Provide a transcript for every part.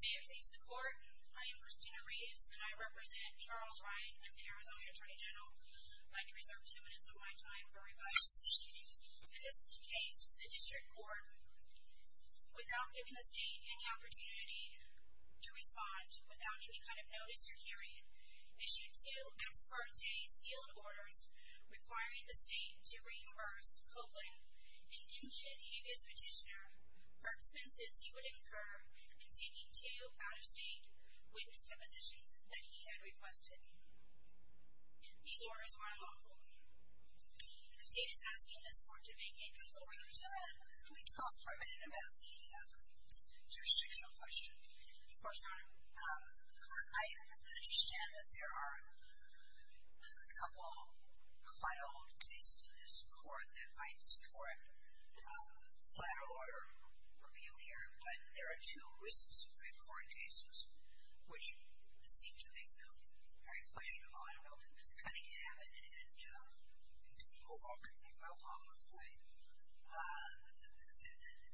May it please the court, I am Christina Reeves and I represent Charles Ryan and the Arizona Attorney General. I'd like to reserve two minutes of my time for rebuttal. In this case, the district court, without giving the state any opportunity to respond, without any kind of notice or hearing, issued two ex parte sealed orders requiring the state to reimburse Copeland, an injured habeas petitioner, for expenses he would incur in taking two out-of-state witness depositions that he had requested. These orders were unlawful. The state is asking this court to make a conclusion. Mr. Chairman, can we talk for a minute about the jurisdictional question? Of course, Your Honor. I understand that there are a couple quite old cases in this court that might support collateral order repeal here, but there are two recent Supreme Court cases which seem to make them very questionable. I don't know if it's Cunningham and Mohawk.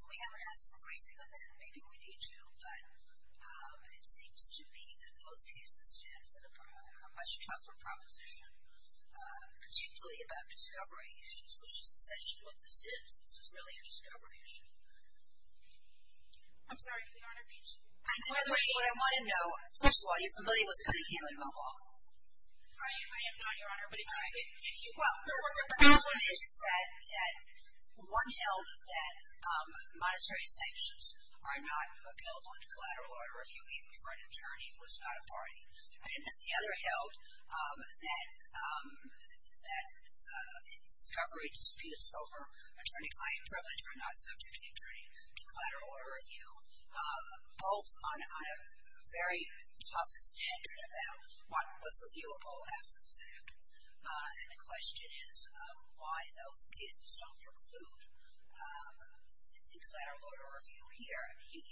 We haven't asked for a briefing on that. Maybe we need to, but it seems to me that those cases stand for a much tougher proposition, particularly about discovery issues, which is essentially what this is. This is really a discovery issue. I'm sorry, Your Honor. By the way, what I want to know, first of all, are you familiar with Cunningham and Mohawk? I am not, Your Honor, but if you will. Well, the proposition is that one held that monetary sanctions are not appellable to collateral order review, even for an attorney who is not a party. And the other held that discovery disputes over attorney-client privilege are not subject to attorney-collateral order review. Both on a very tough standard about what was repealable after the fact. And the question is why those cases don't preclude collateral order review here. I mean,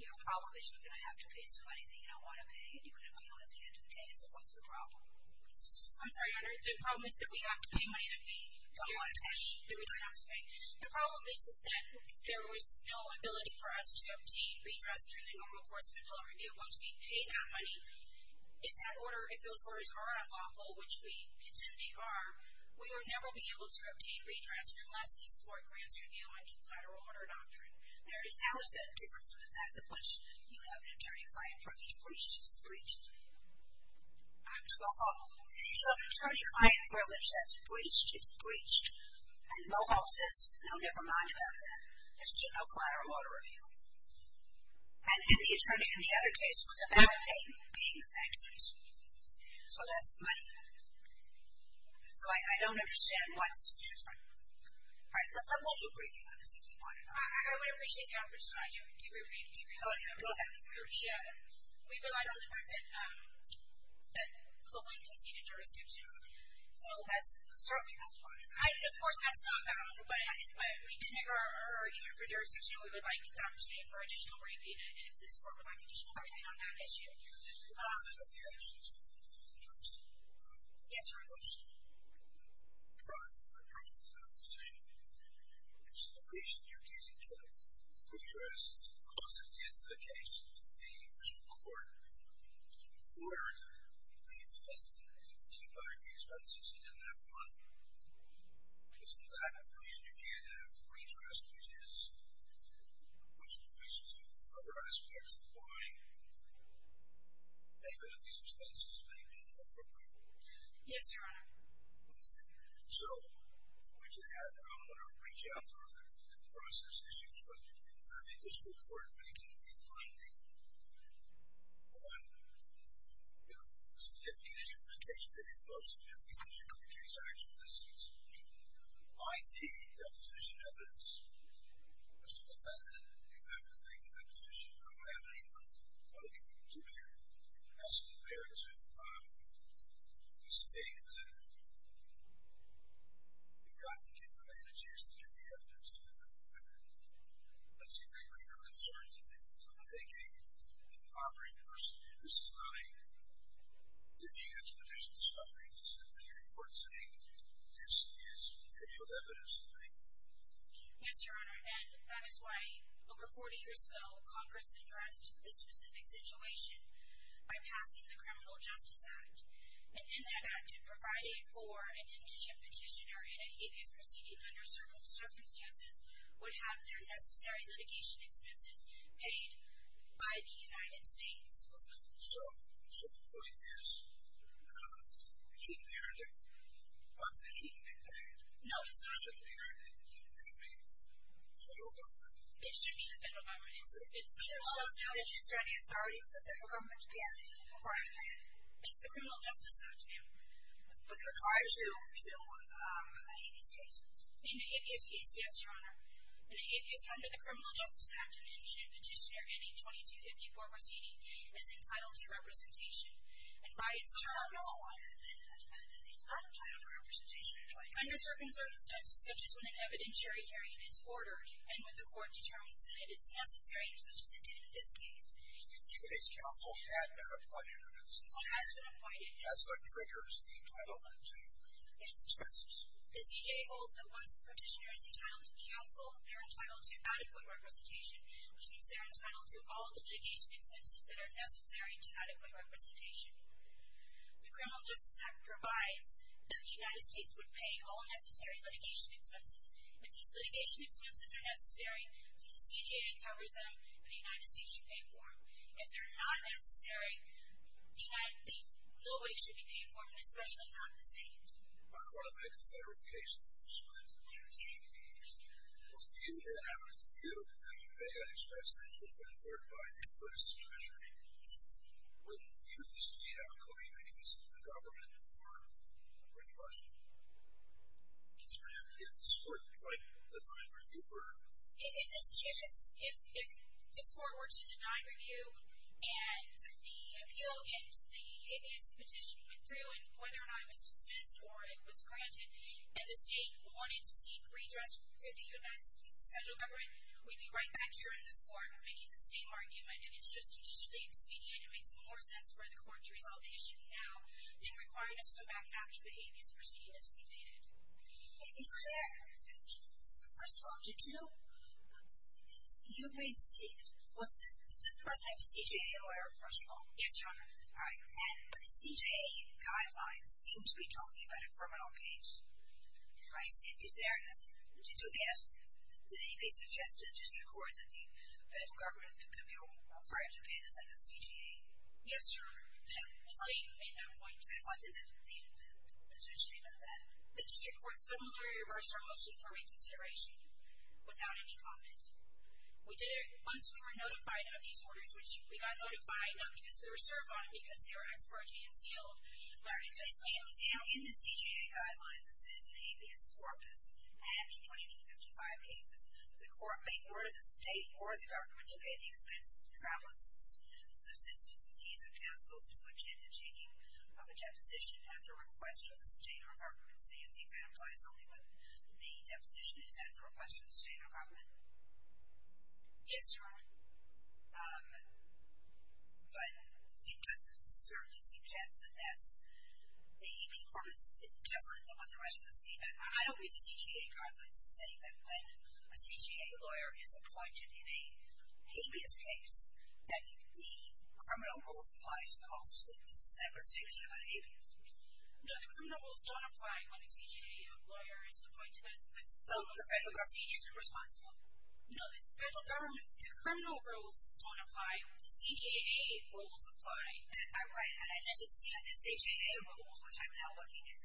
your problem is you're going to have to pay some money that you don't want to pay, and you're going to appeal at the end of the case. What's the problem? I'm sorry, Your Honor. The problem is that we have to pay money that we don't want to pay, that we don't have to pay. The problem is that there is no ability for us to obtain redress through the normal course of appellate review once we pay that money. If that order, if those orders are unlawful, which we contend they are, we will never be able to obtain redress unless these court grants review on collateral order doctrine. How is that different from the fact that once you have an attorney-client privilege, it's breached? It's breached. I'm sorry. No, never mind about that. There's no collateral order review. And the attorney in the other case was about paying, being sanctioned. So that's money. So I don't understand what's different. All right. I'm going to do a briefing on this if you want it or not. I would appreciate the opportunity to do a brief. Oh, yeah. Go ahead. We relied on the fact that Copeland conceded jurisdiction earlier. So that's certainly not part of it. Of course, that's not valid. But we did make our argument for jurisdiction. We would like the opportunity for additional briefing if this court would like additional briefing on that issue. I'm sorry. I don't understand. It's a reluctance? It's a reluctance. A reluctance is not a decision. It's the reason you can't get redress. Of course, at the end of the case, the principle court would be faulted. It's not the reason you can't get redress, which is, which increases other aspects of the body. And because of these expenses, it may be inappropriate. Yes, Your Honor. Okay. So I'm going to reach out for other different process issues. But I mean, this court we're making a finding on significant justification. It involves significant justification. In your case, actually, this is ID, deposition evidence, Mr. Defendant. You have to think of that position. I don't have any more for the court. It's in here. It's in here. So this is a thing that we got to get managers to get the evidence to get the evidence that you are concerned that you're thinking. This is not a disusing a petition to establish disputer, your court is saying this is material evidence, not a potential statement. Yes, Your Honor. And that is why over 40 years ago Congress addressed this specific situation by passing the Criminal Justice Act, and in that act if providing for an injured petitioner in a Hias proceeding under circumstances would have their necessary litigation expenses paid by the United States. So, so the point is, it shouldn't be hereditary. Well, it's been hereditary. No, it's not. It shouldn't be hereditary. It should be the federal government. It should be the federal government. It's being discussed now. It should be the authority of the federal government. Yeah. Right. It's the Criminal Justice Act, Your Honor. But it requires that it be filled with a Habeas case. In a Habeas case, yes, Your Honor. In a Habeas, under the Criminal Justice Act, an injured petitioner in a 2254 proceeding is entitled to representation, and by its terms. No, no, no. It's not entitled to representation. Under circumstances such as when an evidentiary hearing is ordered, and when the court determines that it is necessary, such as it did in this case. The United States Council had never appointed it. The Council has been appointed. That's what triggers the entitlement to expenses. The CJA holds that once a petitioner is entitled to counsel, they're entitled to adequate representation, which means they're entitled to all of the litigation expenses that are necessary to adequate representation. The Criminal Justice Act provides that the United States would pay all necessary litigation expenses. If these litigation expenses are necessary, then the CJA covers them, and the United States should pay for them. If they're not necessary, then I think nobody should be paying for them, especially not the state. What about the confederate cases? Would you have reviewed the expense that's required by the U.S. Treasury? Yes. Would you, as a CJA, have a claim against the government for reimbursement? Yes, ma'am. If this court were to deny review, or… If this court were to deny review, and the appeal and the habeas petition went through, and whether or not it was dismissed or it was granted, and the state wanted to seek redress through the U.S. federal government, we'd be right back here in this court making the same argument, and it's just judicially expedient. It makes more sense for the court to resolve the issue now than requiring us to come back after the habeas proceeding has been dated. Is there… First of all, did you… You agreed to seek… Does the person have a CJA lawyer, first of all? Yes, Your Honor. All right. But the CJA guidelines seem to be talking about a criminal case. Is there… Did you ask… Did anybody suggest to the district court that the federal government could be required to pay the same as the CJA? Yes, Your Honor. The state made that point. The district court similarly reversed our motion for reconsideration without any comment. We did it once we were notified of these orders, which we got notified, not because we were served on them, because they were expurgated and sealed. All right. In the CJA guidelines, as it is in the habeas corpus, after 20 to 55 cases, the court may order the state or the government to pay the expenses of travel expenses, subsistence and visa counsels to attend the taking of a deposition at the request of the state or government. So you think that implies only when the deposition is at the request of the state or government? Yes, Your Honor. But it doesn't certainly suggest that that's… The habeas corpus is different than what the rest of the state… I don't read the CJA guidelines as saying that when a CJA lawyer is appointed in a habeas case that the criminal rules apply to the whole state. This is a separate section about habeas. No, the criminal rules don't apply when a CJA lawyer is appointed. So the federal government isn't responsible? No, the federal government's criminal rules don't apply. The CJA rules apply. I read and I just see the CJA rules, which I'm now looking at.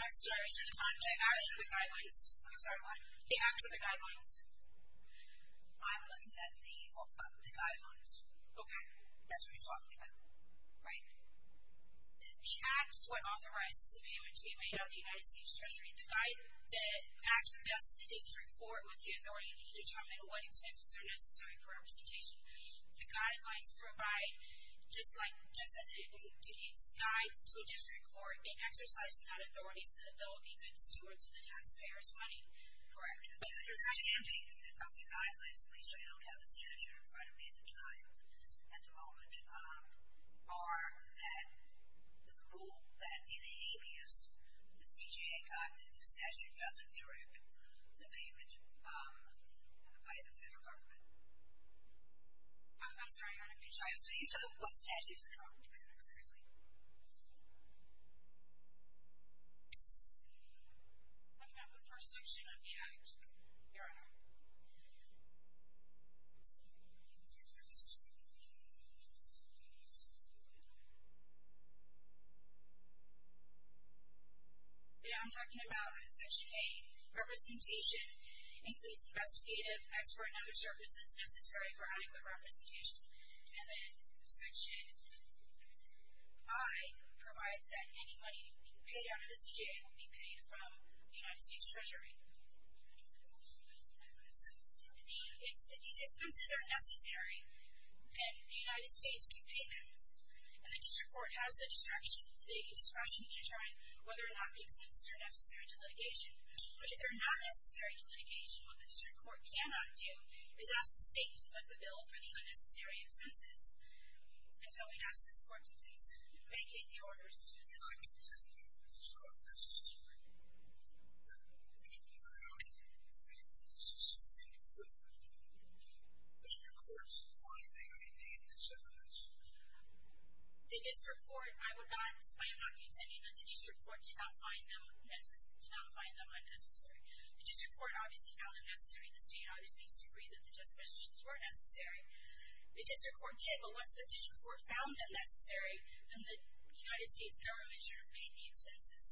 I'm sorry. These are the guidelines. I'm sorry, what? They act with the guidelines. I'm looking at the guidelines. Okay. That's what you're talking about, right? The act is what authorizes the payment to be made out of the United States Treasury. The act invests in the district court with the authority to determine what expenses are necessary for representation. The guidelines provide, just as it indicates, guides to a district court in exercising that authority so that there will be good stewards of the taxpayer's money. Correct. The CJA guidelines, at least I don't have the statute in front of me at the time at the moment, are the rule that in habeas the CJA statute doesn't direct the payment by the federal government. I'm sorry. I'm confused. What statute are you talking about exactly? I'm talking about the first section of the act. Here I am. Yeah, I'm talking about section A, representation, includes investigative, expert, and other services necessary for adequate representation. And then section I provides that any money paid out of the CJA will be paid from the United States Treasury. If these expenses are necessary, then the United States can pay them. And the district court has the discretion to determine whether or not the expenses are necessary to litigation. But if they're not necessary to litigation, what the district court cannot do is ask the state to foot the bill for the unnecessary expenses. And so we'd ask this court to please vacate the orders. I'm not contending that these are unnecessary. I'm not contending that these are necessary. Mr. Court's finding may be in this evidence. The district court, I am not contending that the district court did not find them unnecessary. The district court obviously found them necessary. The state obviously disagreed that the justifications were necessary. The district court did, but once the district court found them necessary, then the United States government should have paid the expenses.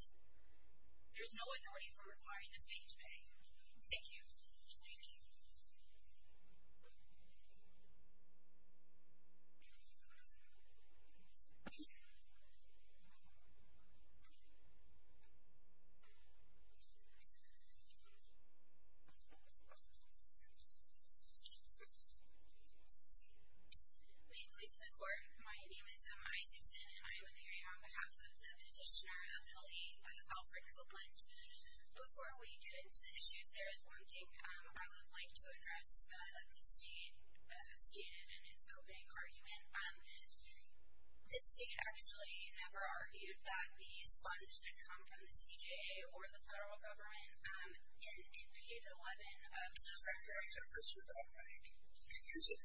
There's no authority for requiring the state to pay. Thank you. Thank you. May it please the court. My name is Emma Isakson, and I am appearing on behalf of the petitioner appellee, Alfred Copeland. Before we get into the issues, there is one thing I would like to address that the state stated in its opening argument. The state actually never argued that these funds should come from the CJA or the federal government. And in page 11 of the record. What difference would that make? Is it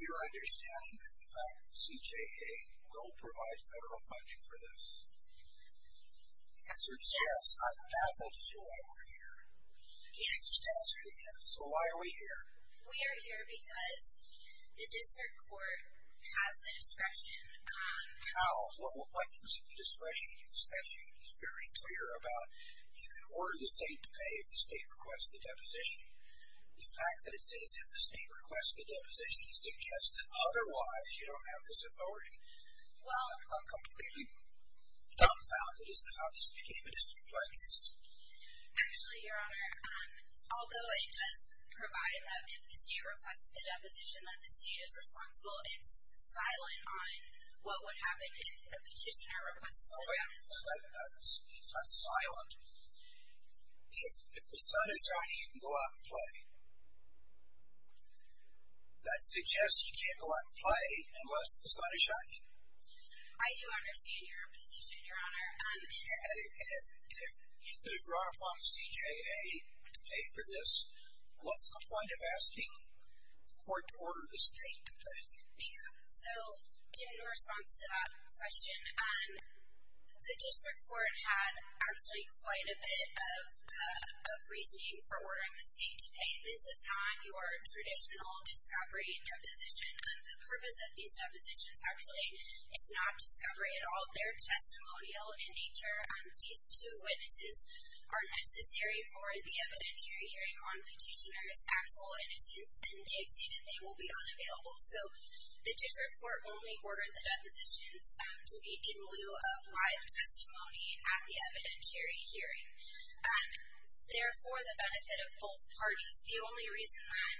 your understanding that the CJA will provide federal funding for this? The answer is yes. I'm baffled as to why we're here. The answer is to ask it again. So why are we here? We are here because the district court has the discretion. How? What gives it the discretion? The statute is very clear about you can order the state to pay if the state requests the deposition. The fact that it says if the state requests the deposition suggests that otherwise you don't have this authority. I'm completely dumbfounded as to how this became a district court case. Actually, Your Honor, although it does provide that if the state requests the deposition that the state is responsible, it's silent on what would happen if the petitioner requests the deposition. It's not silent. If the sun is shining, you can go out and play. That suggests you can't go out and play unless the sun is shining. I do understand your position, Your Honor. And if you could have drawn upon the CJA to pay for this, what's the point of asking the court to order the state to pay? So in response to that question, the district court had actually quite a bit of reasoning for ordering the state to pay. This is not your traditional discovery deposition. The purpose of these depositions actually is not discovery at all. They're testimonial in nature. These two witnesses are necessary for the evidentiary hearing on petitioner's actual innocence, and they've stated they will be unavailable. So the district court only ordered the depositions to be in lieu of live testimony at the evidentiary hearing. Therefore, the benefit of both parties, the only reason that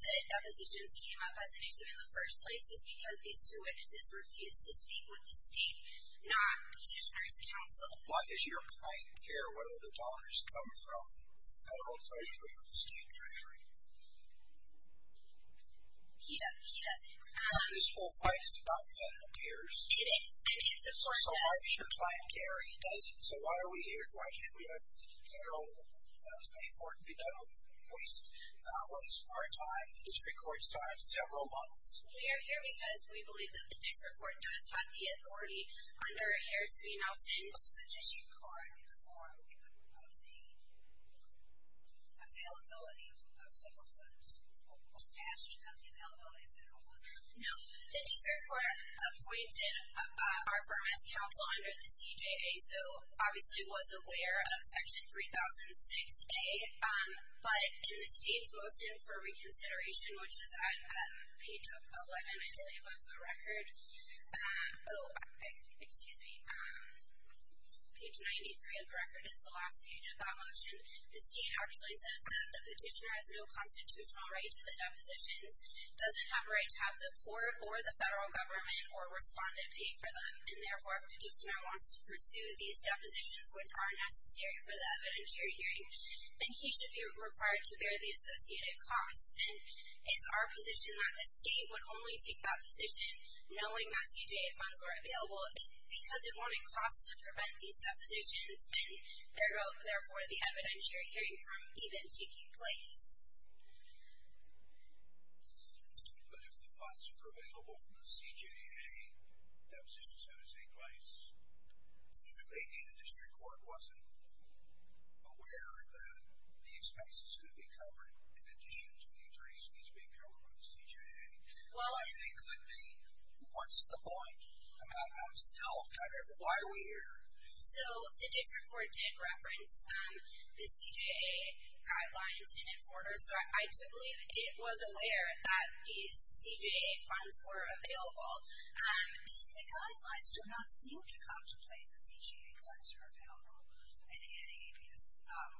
the depositions came up as an issue in the first place is because these two witnesses refused to speak with the state, not petitioner's counsel. Why does your client care whether the donors come from the federal treasury or the state treasury? He doesn't. This whole fight is about that, it appears. It is. So why does your client care? He doesn't. So why are we here? Why can't we let the general pay for it and be done with it? We waste our time, the district court's time, several months. We are here because we believe that the district court does have the authority under Harris v. Nelson. Was the district court informed of the availability of federal funds? Asking of the availability of federal funds? No. The district court appointed our firm as counsel under the CJA, so obviously it was aware of Section 3006A. But in the state's motion for reconsideration, which is at page 11, I believe of the record, oh, excuse me, page 93 of the record is the last page of that motion, the state actually says that the petitioner has no constitutional right to the depositions, doesn't have a right to have the court or the federal government or respondent pay for them, and therefore if a petitioner wants to pursue these depositions, which are necessary for the evidentiary hearing, then he should be required to bear the associated costs. And it's our position that the state would only take that position, knowing that CJA funds were available, because it won't cost to prevent these depositions, and therefore the evidentiary hearing from even taking place. But if the funds were available from the CJA, depositions had to take place, maybe the district court wasn't aware that these cases could be covered in addition to the attorneys fees being covered by the CJA. Well, it could be. What's the point? I mean, I'm still kind of, why are we here? So the district court did reference the CJA guidelines in its order, so I do believe it was aware that these CJA funds were available. The guidelines do not seem to contemplate the CJA funds are available in a habeas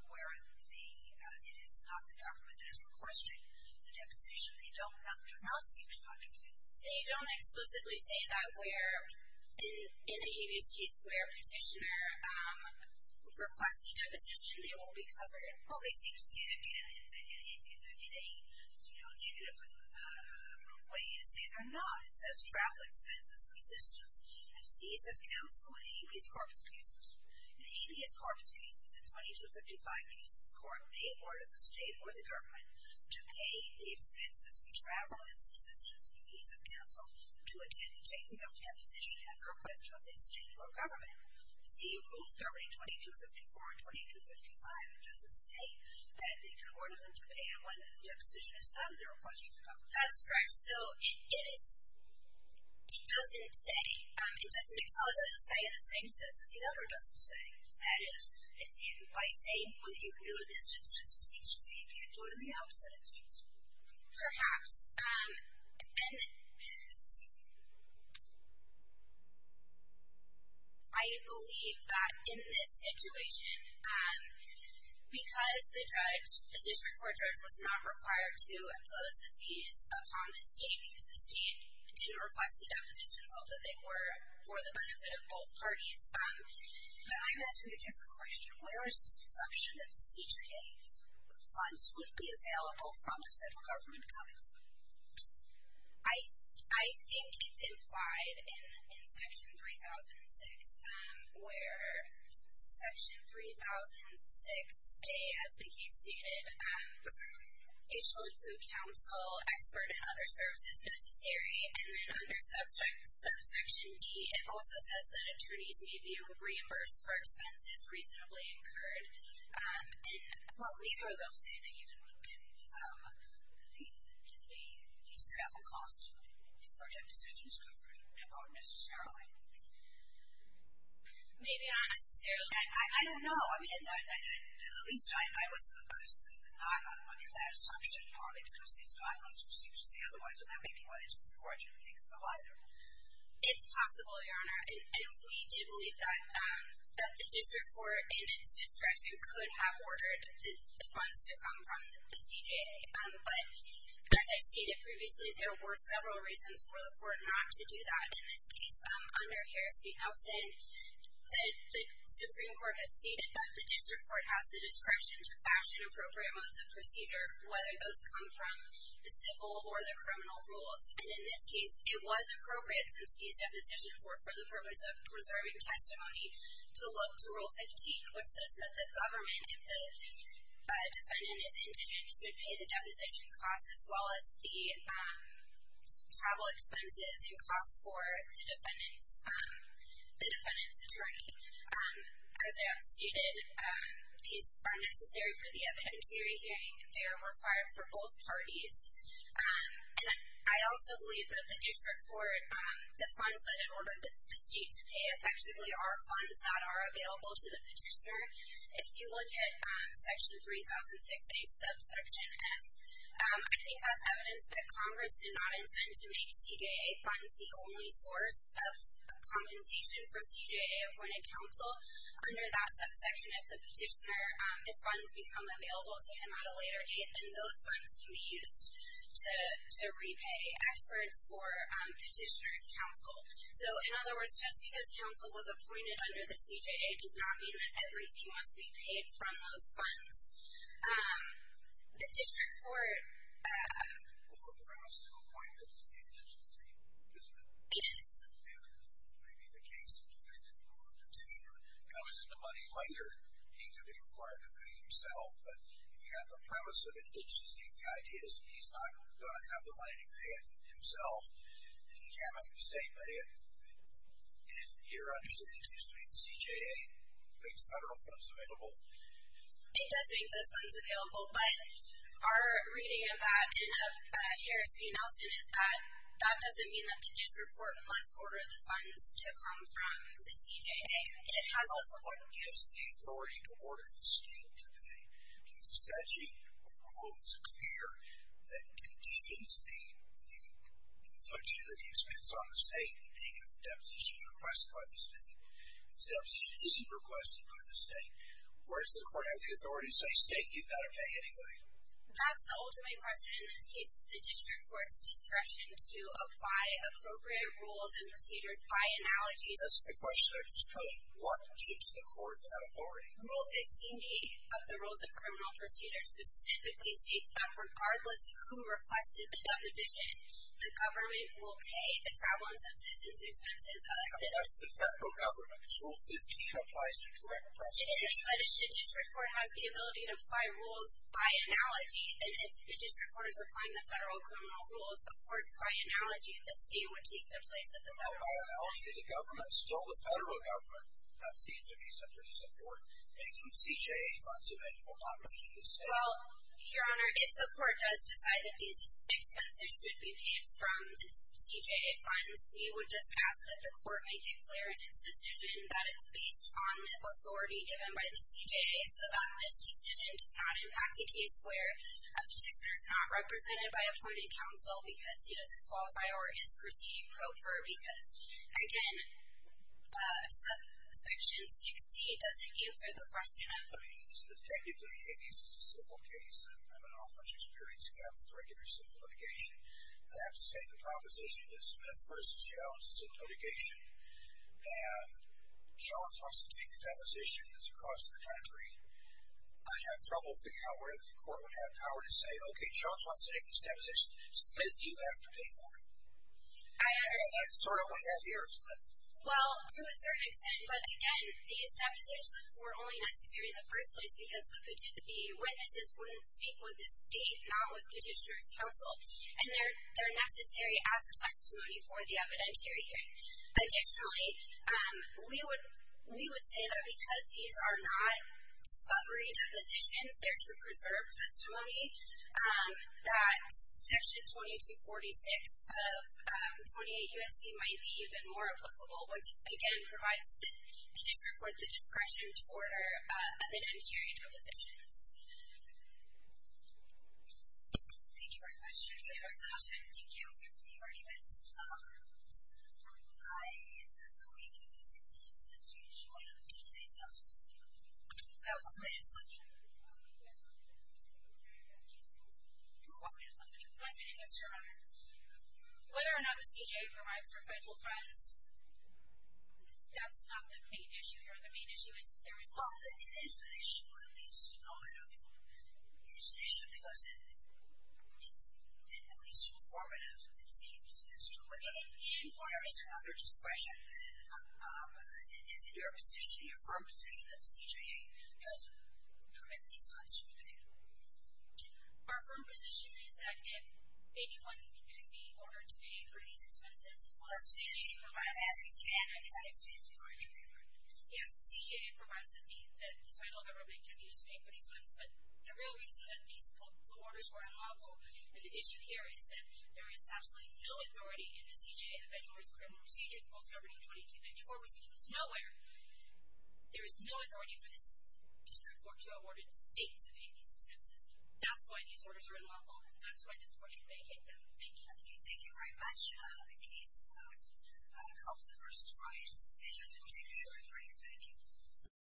where it is not the government that is requesting the deposition. They do not seem to contemplate it. They don't exclusively say that where, in a habeas case, where a petitioner requests a deposition, they will be covered. Well, they seem to see it in a negative way to say they're not. It says travel expenses, subsistence, and fees of counsel in habeas corpus cases. In habeas corpus cases, in 2255 cases, the court may order the state or the government to pay the expenses for travel and subsistence and fees of counsel to attend the taking of the deposition after a request from the state or government. See, rules governing 2254 and 2255, it doesn't say that they can order them to pay when the deposition is out of their request. That's correct. So it doesn't say. It doesn't exclusively say. It doesn't say in the same sense that the other doesn't say. That is, by saying you can do this, it just seems to say you can't do it in the opposite instance. Perhaps. Yes. I believe that in this situation, because the judge, the district court judge was not required to impose the fees upon the state because the state didn't request the depositions, although they were for the benefit of both parties. Can I ask you a different question? Where is this assumption that the CJA funds would be available from the federal government coming from? I think it's implied in Section 3006, where Section 3006A, as Vicki stated, it shall include counsel, expert, and other services necessary. And then under Subsection D, it also says that attorneys may be able to reimburse for expenses reasonably incurred. Well, neither of those say that you can reduce travel costs to protect decisions covered unnecessarily. Maybe not necessarily. I don't know. I mean, at least I was not under that assumption normally because these guidelines would seem to say otherwise, and that may be why they just didn't support you in thinking so either. It's possible, Your Honor. And we did believe that the district court, in its discretion, could have ordered the funds to come from the CJA. But as I stated previously, there were several reasons for the court not to do that in this case. Under Harris v. Nelson, the Supreme Court has stated that the district court has the discretion to fashion appropriate modes of procedure, whether those come from the civil or the criminal rules. And in this case, it was appropriate since these depositions were for the purpose of preserving testimony to look to Rule 15, which says that the government, if the defendant is indigent, should pay the deposition costs as well as the travel expenses and costs for the defendant's attorney. As I have stated, these are necessary for the evidentiary hearing. They are required for both parties. And I also believe that the district court, the funds that it ordered the state to pay effectively are funds that are available to the petitioner. If you look at Section 3006A, subsection F, I think that's evidence that Congress did not intend to make CJA funds the only source of compensation for CJA-appointed counsel. Under that subsection, if the petitioner, if funds become available to him at a later date, then those funds can be used to repay experts or petitioner's counsel. So, in other words, just because counsel was appointed under the CJA does not mean that everything must be paid from those funds. The district court. Or perhaps the appointment is indigent, isn't it? It is. And maybe the case of defendant or petitioner comes into money later. He could be required to pay himself, but if you have the premise of indigence, the idea is he's not going to have the money to pay it himself. And he can't make the state pay it. And your understanding is that the CJA makes federal funds available. It does make those funds available, but our reading of that in of Harris v. Nelson is that that doesn't mean that the district court must order the funds to come from the CJA. What gives the authority to order the state to pay? If the statute or rule is clear, that conditions the inflation that he spends on the state, meaning if the deposition is requested by the state. If the deposition isn't requested by the state, where does the court have the authority to say, state, you've got to pay anyway? Perhaps the ultimate question in this case is the district court's discretion to apply appropriate rules and procedures by analogy. That's the question I just posed. What gives the court that authority? Rule 15B of the Rules of Criminal Procedure specifically states that regardless of who requested the deposition, the government will pay the travel and subsistence expenses of the deposition. I mean, that's the federal government. Rule 15 applies to direct prosecution. It is, but if the district court has the ability to apply rules by analogy, then if the district court is applying the federal criminal rules, of course, by analogy, the state would take the place of the federal government. And by analogy, the government, still the federal government, does seem to be subject to the court making CJA funds so that it will not make a decision. Well, Your Honor, if the court does decide that these expenses should be paid from a CJA fund, we would just ask that the court make it clear in its decision that it's based on the authority given by the CJA so that this decision does not impact a case where a petitioner is not represented by appointed counsel because he doesn't Again, Section 60 doesn't answer the question of... I mean, this is technically a civil case. I don't have much experience with regular civil litigation. I'd have to say the proposition that Smith v. Jones is in litigation and Jones wants to take the deposition that's across the country. I have trouble figuring out whether the court would have power to say, okay, Jones wants to take this deposition. Smith, you have to pay for it. I understand. To a certain extent. Well, to a certain extent, but again, these depositions were only necessary in the first place because the witnesses wouldn't speak with the state, not with petitioner's counsel, and they're necessary as testimony for the evidentiary hearing. Additionally, we would say that because these are not discovery depositions, they're to preserve testimony that Section 2246 of 28 U.S.C. might be even more applicable, which, again, provides the district with the discretion to order evidentiary depositions. Thank you for your question. Thank you for your question. Thank you. I'm going to answer whether or not the CJA provides for federal funds. That's not the main issue here. The main issue is there is not. Well, it is an issue, at least nominally. It is an issue because it is at least informative, it seems, as to whether there is another discretion. Is it your position, your firm position, that the CJA doesn't prevent these funds from being paid? Our firm position is that if anyone can be ordered to pay for these expenses, well, the CJA provides that. I'm asking if the analysts exist who are in favor. Yes, the CJA provides that the federal government can be used to pay for these funds, but the real reason that the orders were unlawful, and the issue here is that there is absolutely no authority in the CJA, the Federal Risk of Criminal Procedure, the Post-Government 2254 Procedure, there's no authority for this district court to order the state to pay for these expenses. That's why these orders are unlawful, and that's why this court should vacate them. Thank you. Thank you very much. I'm pleased to have a couple of persons rise and take a short break. Thank you.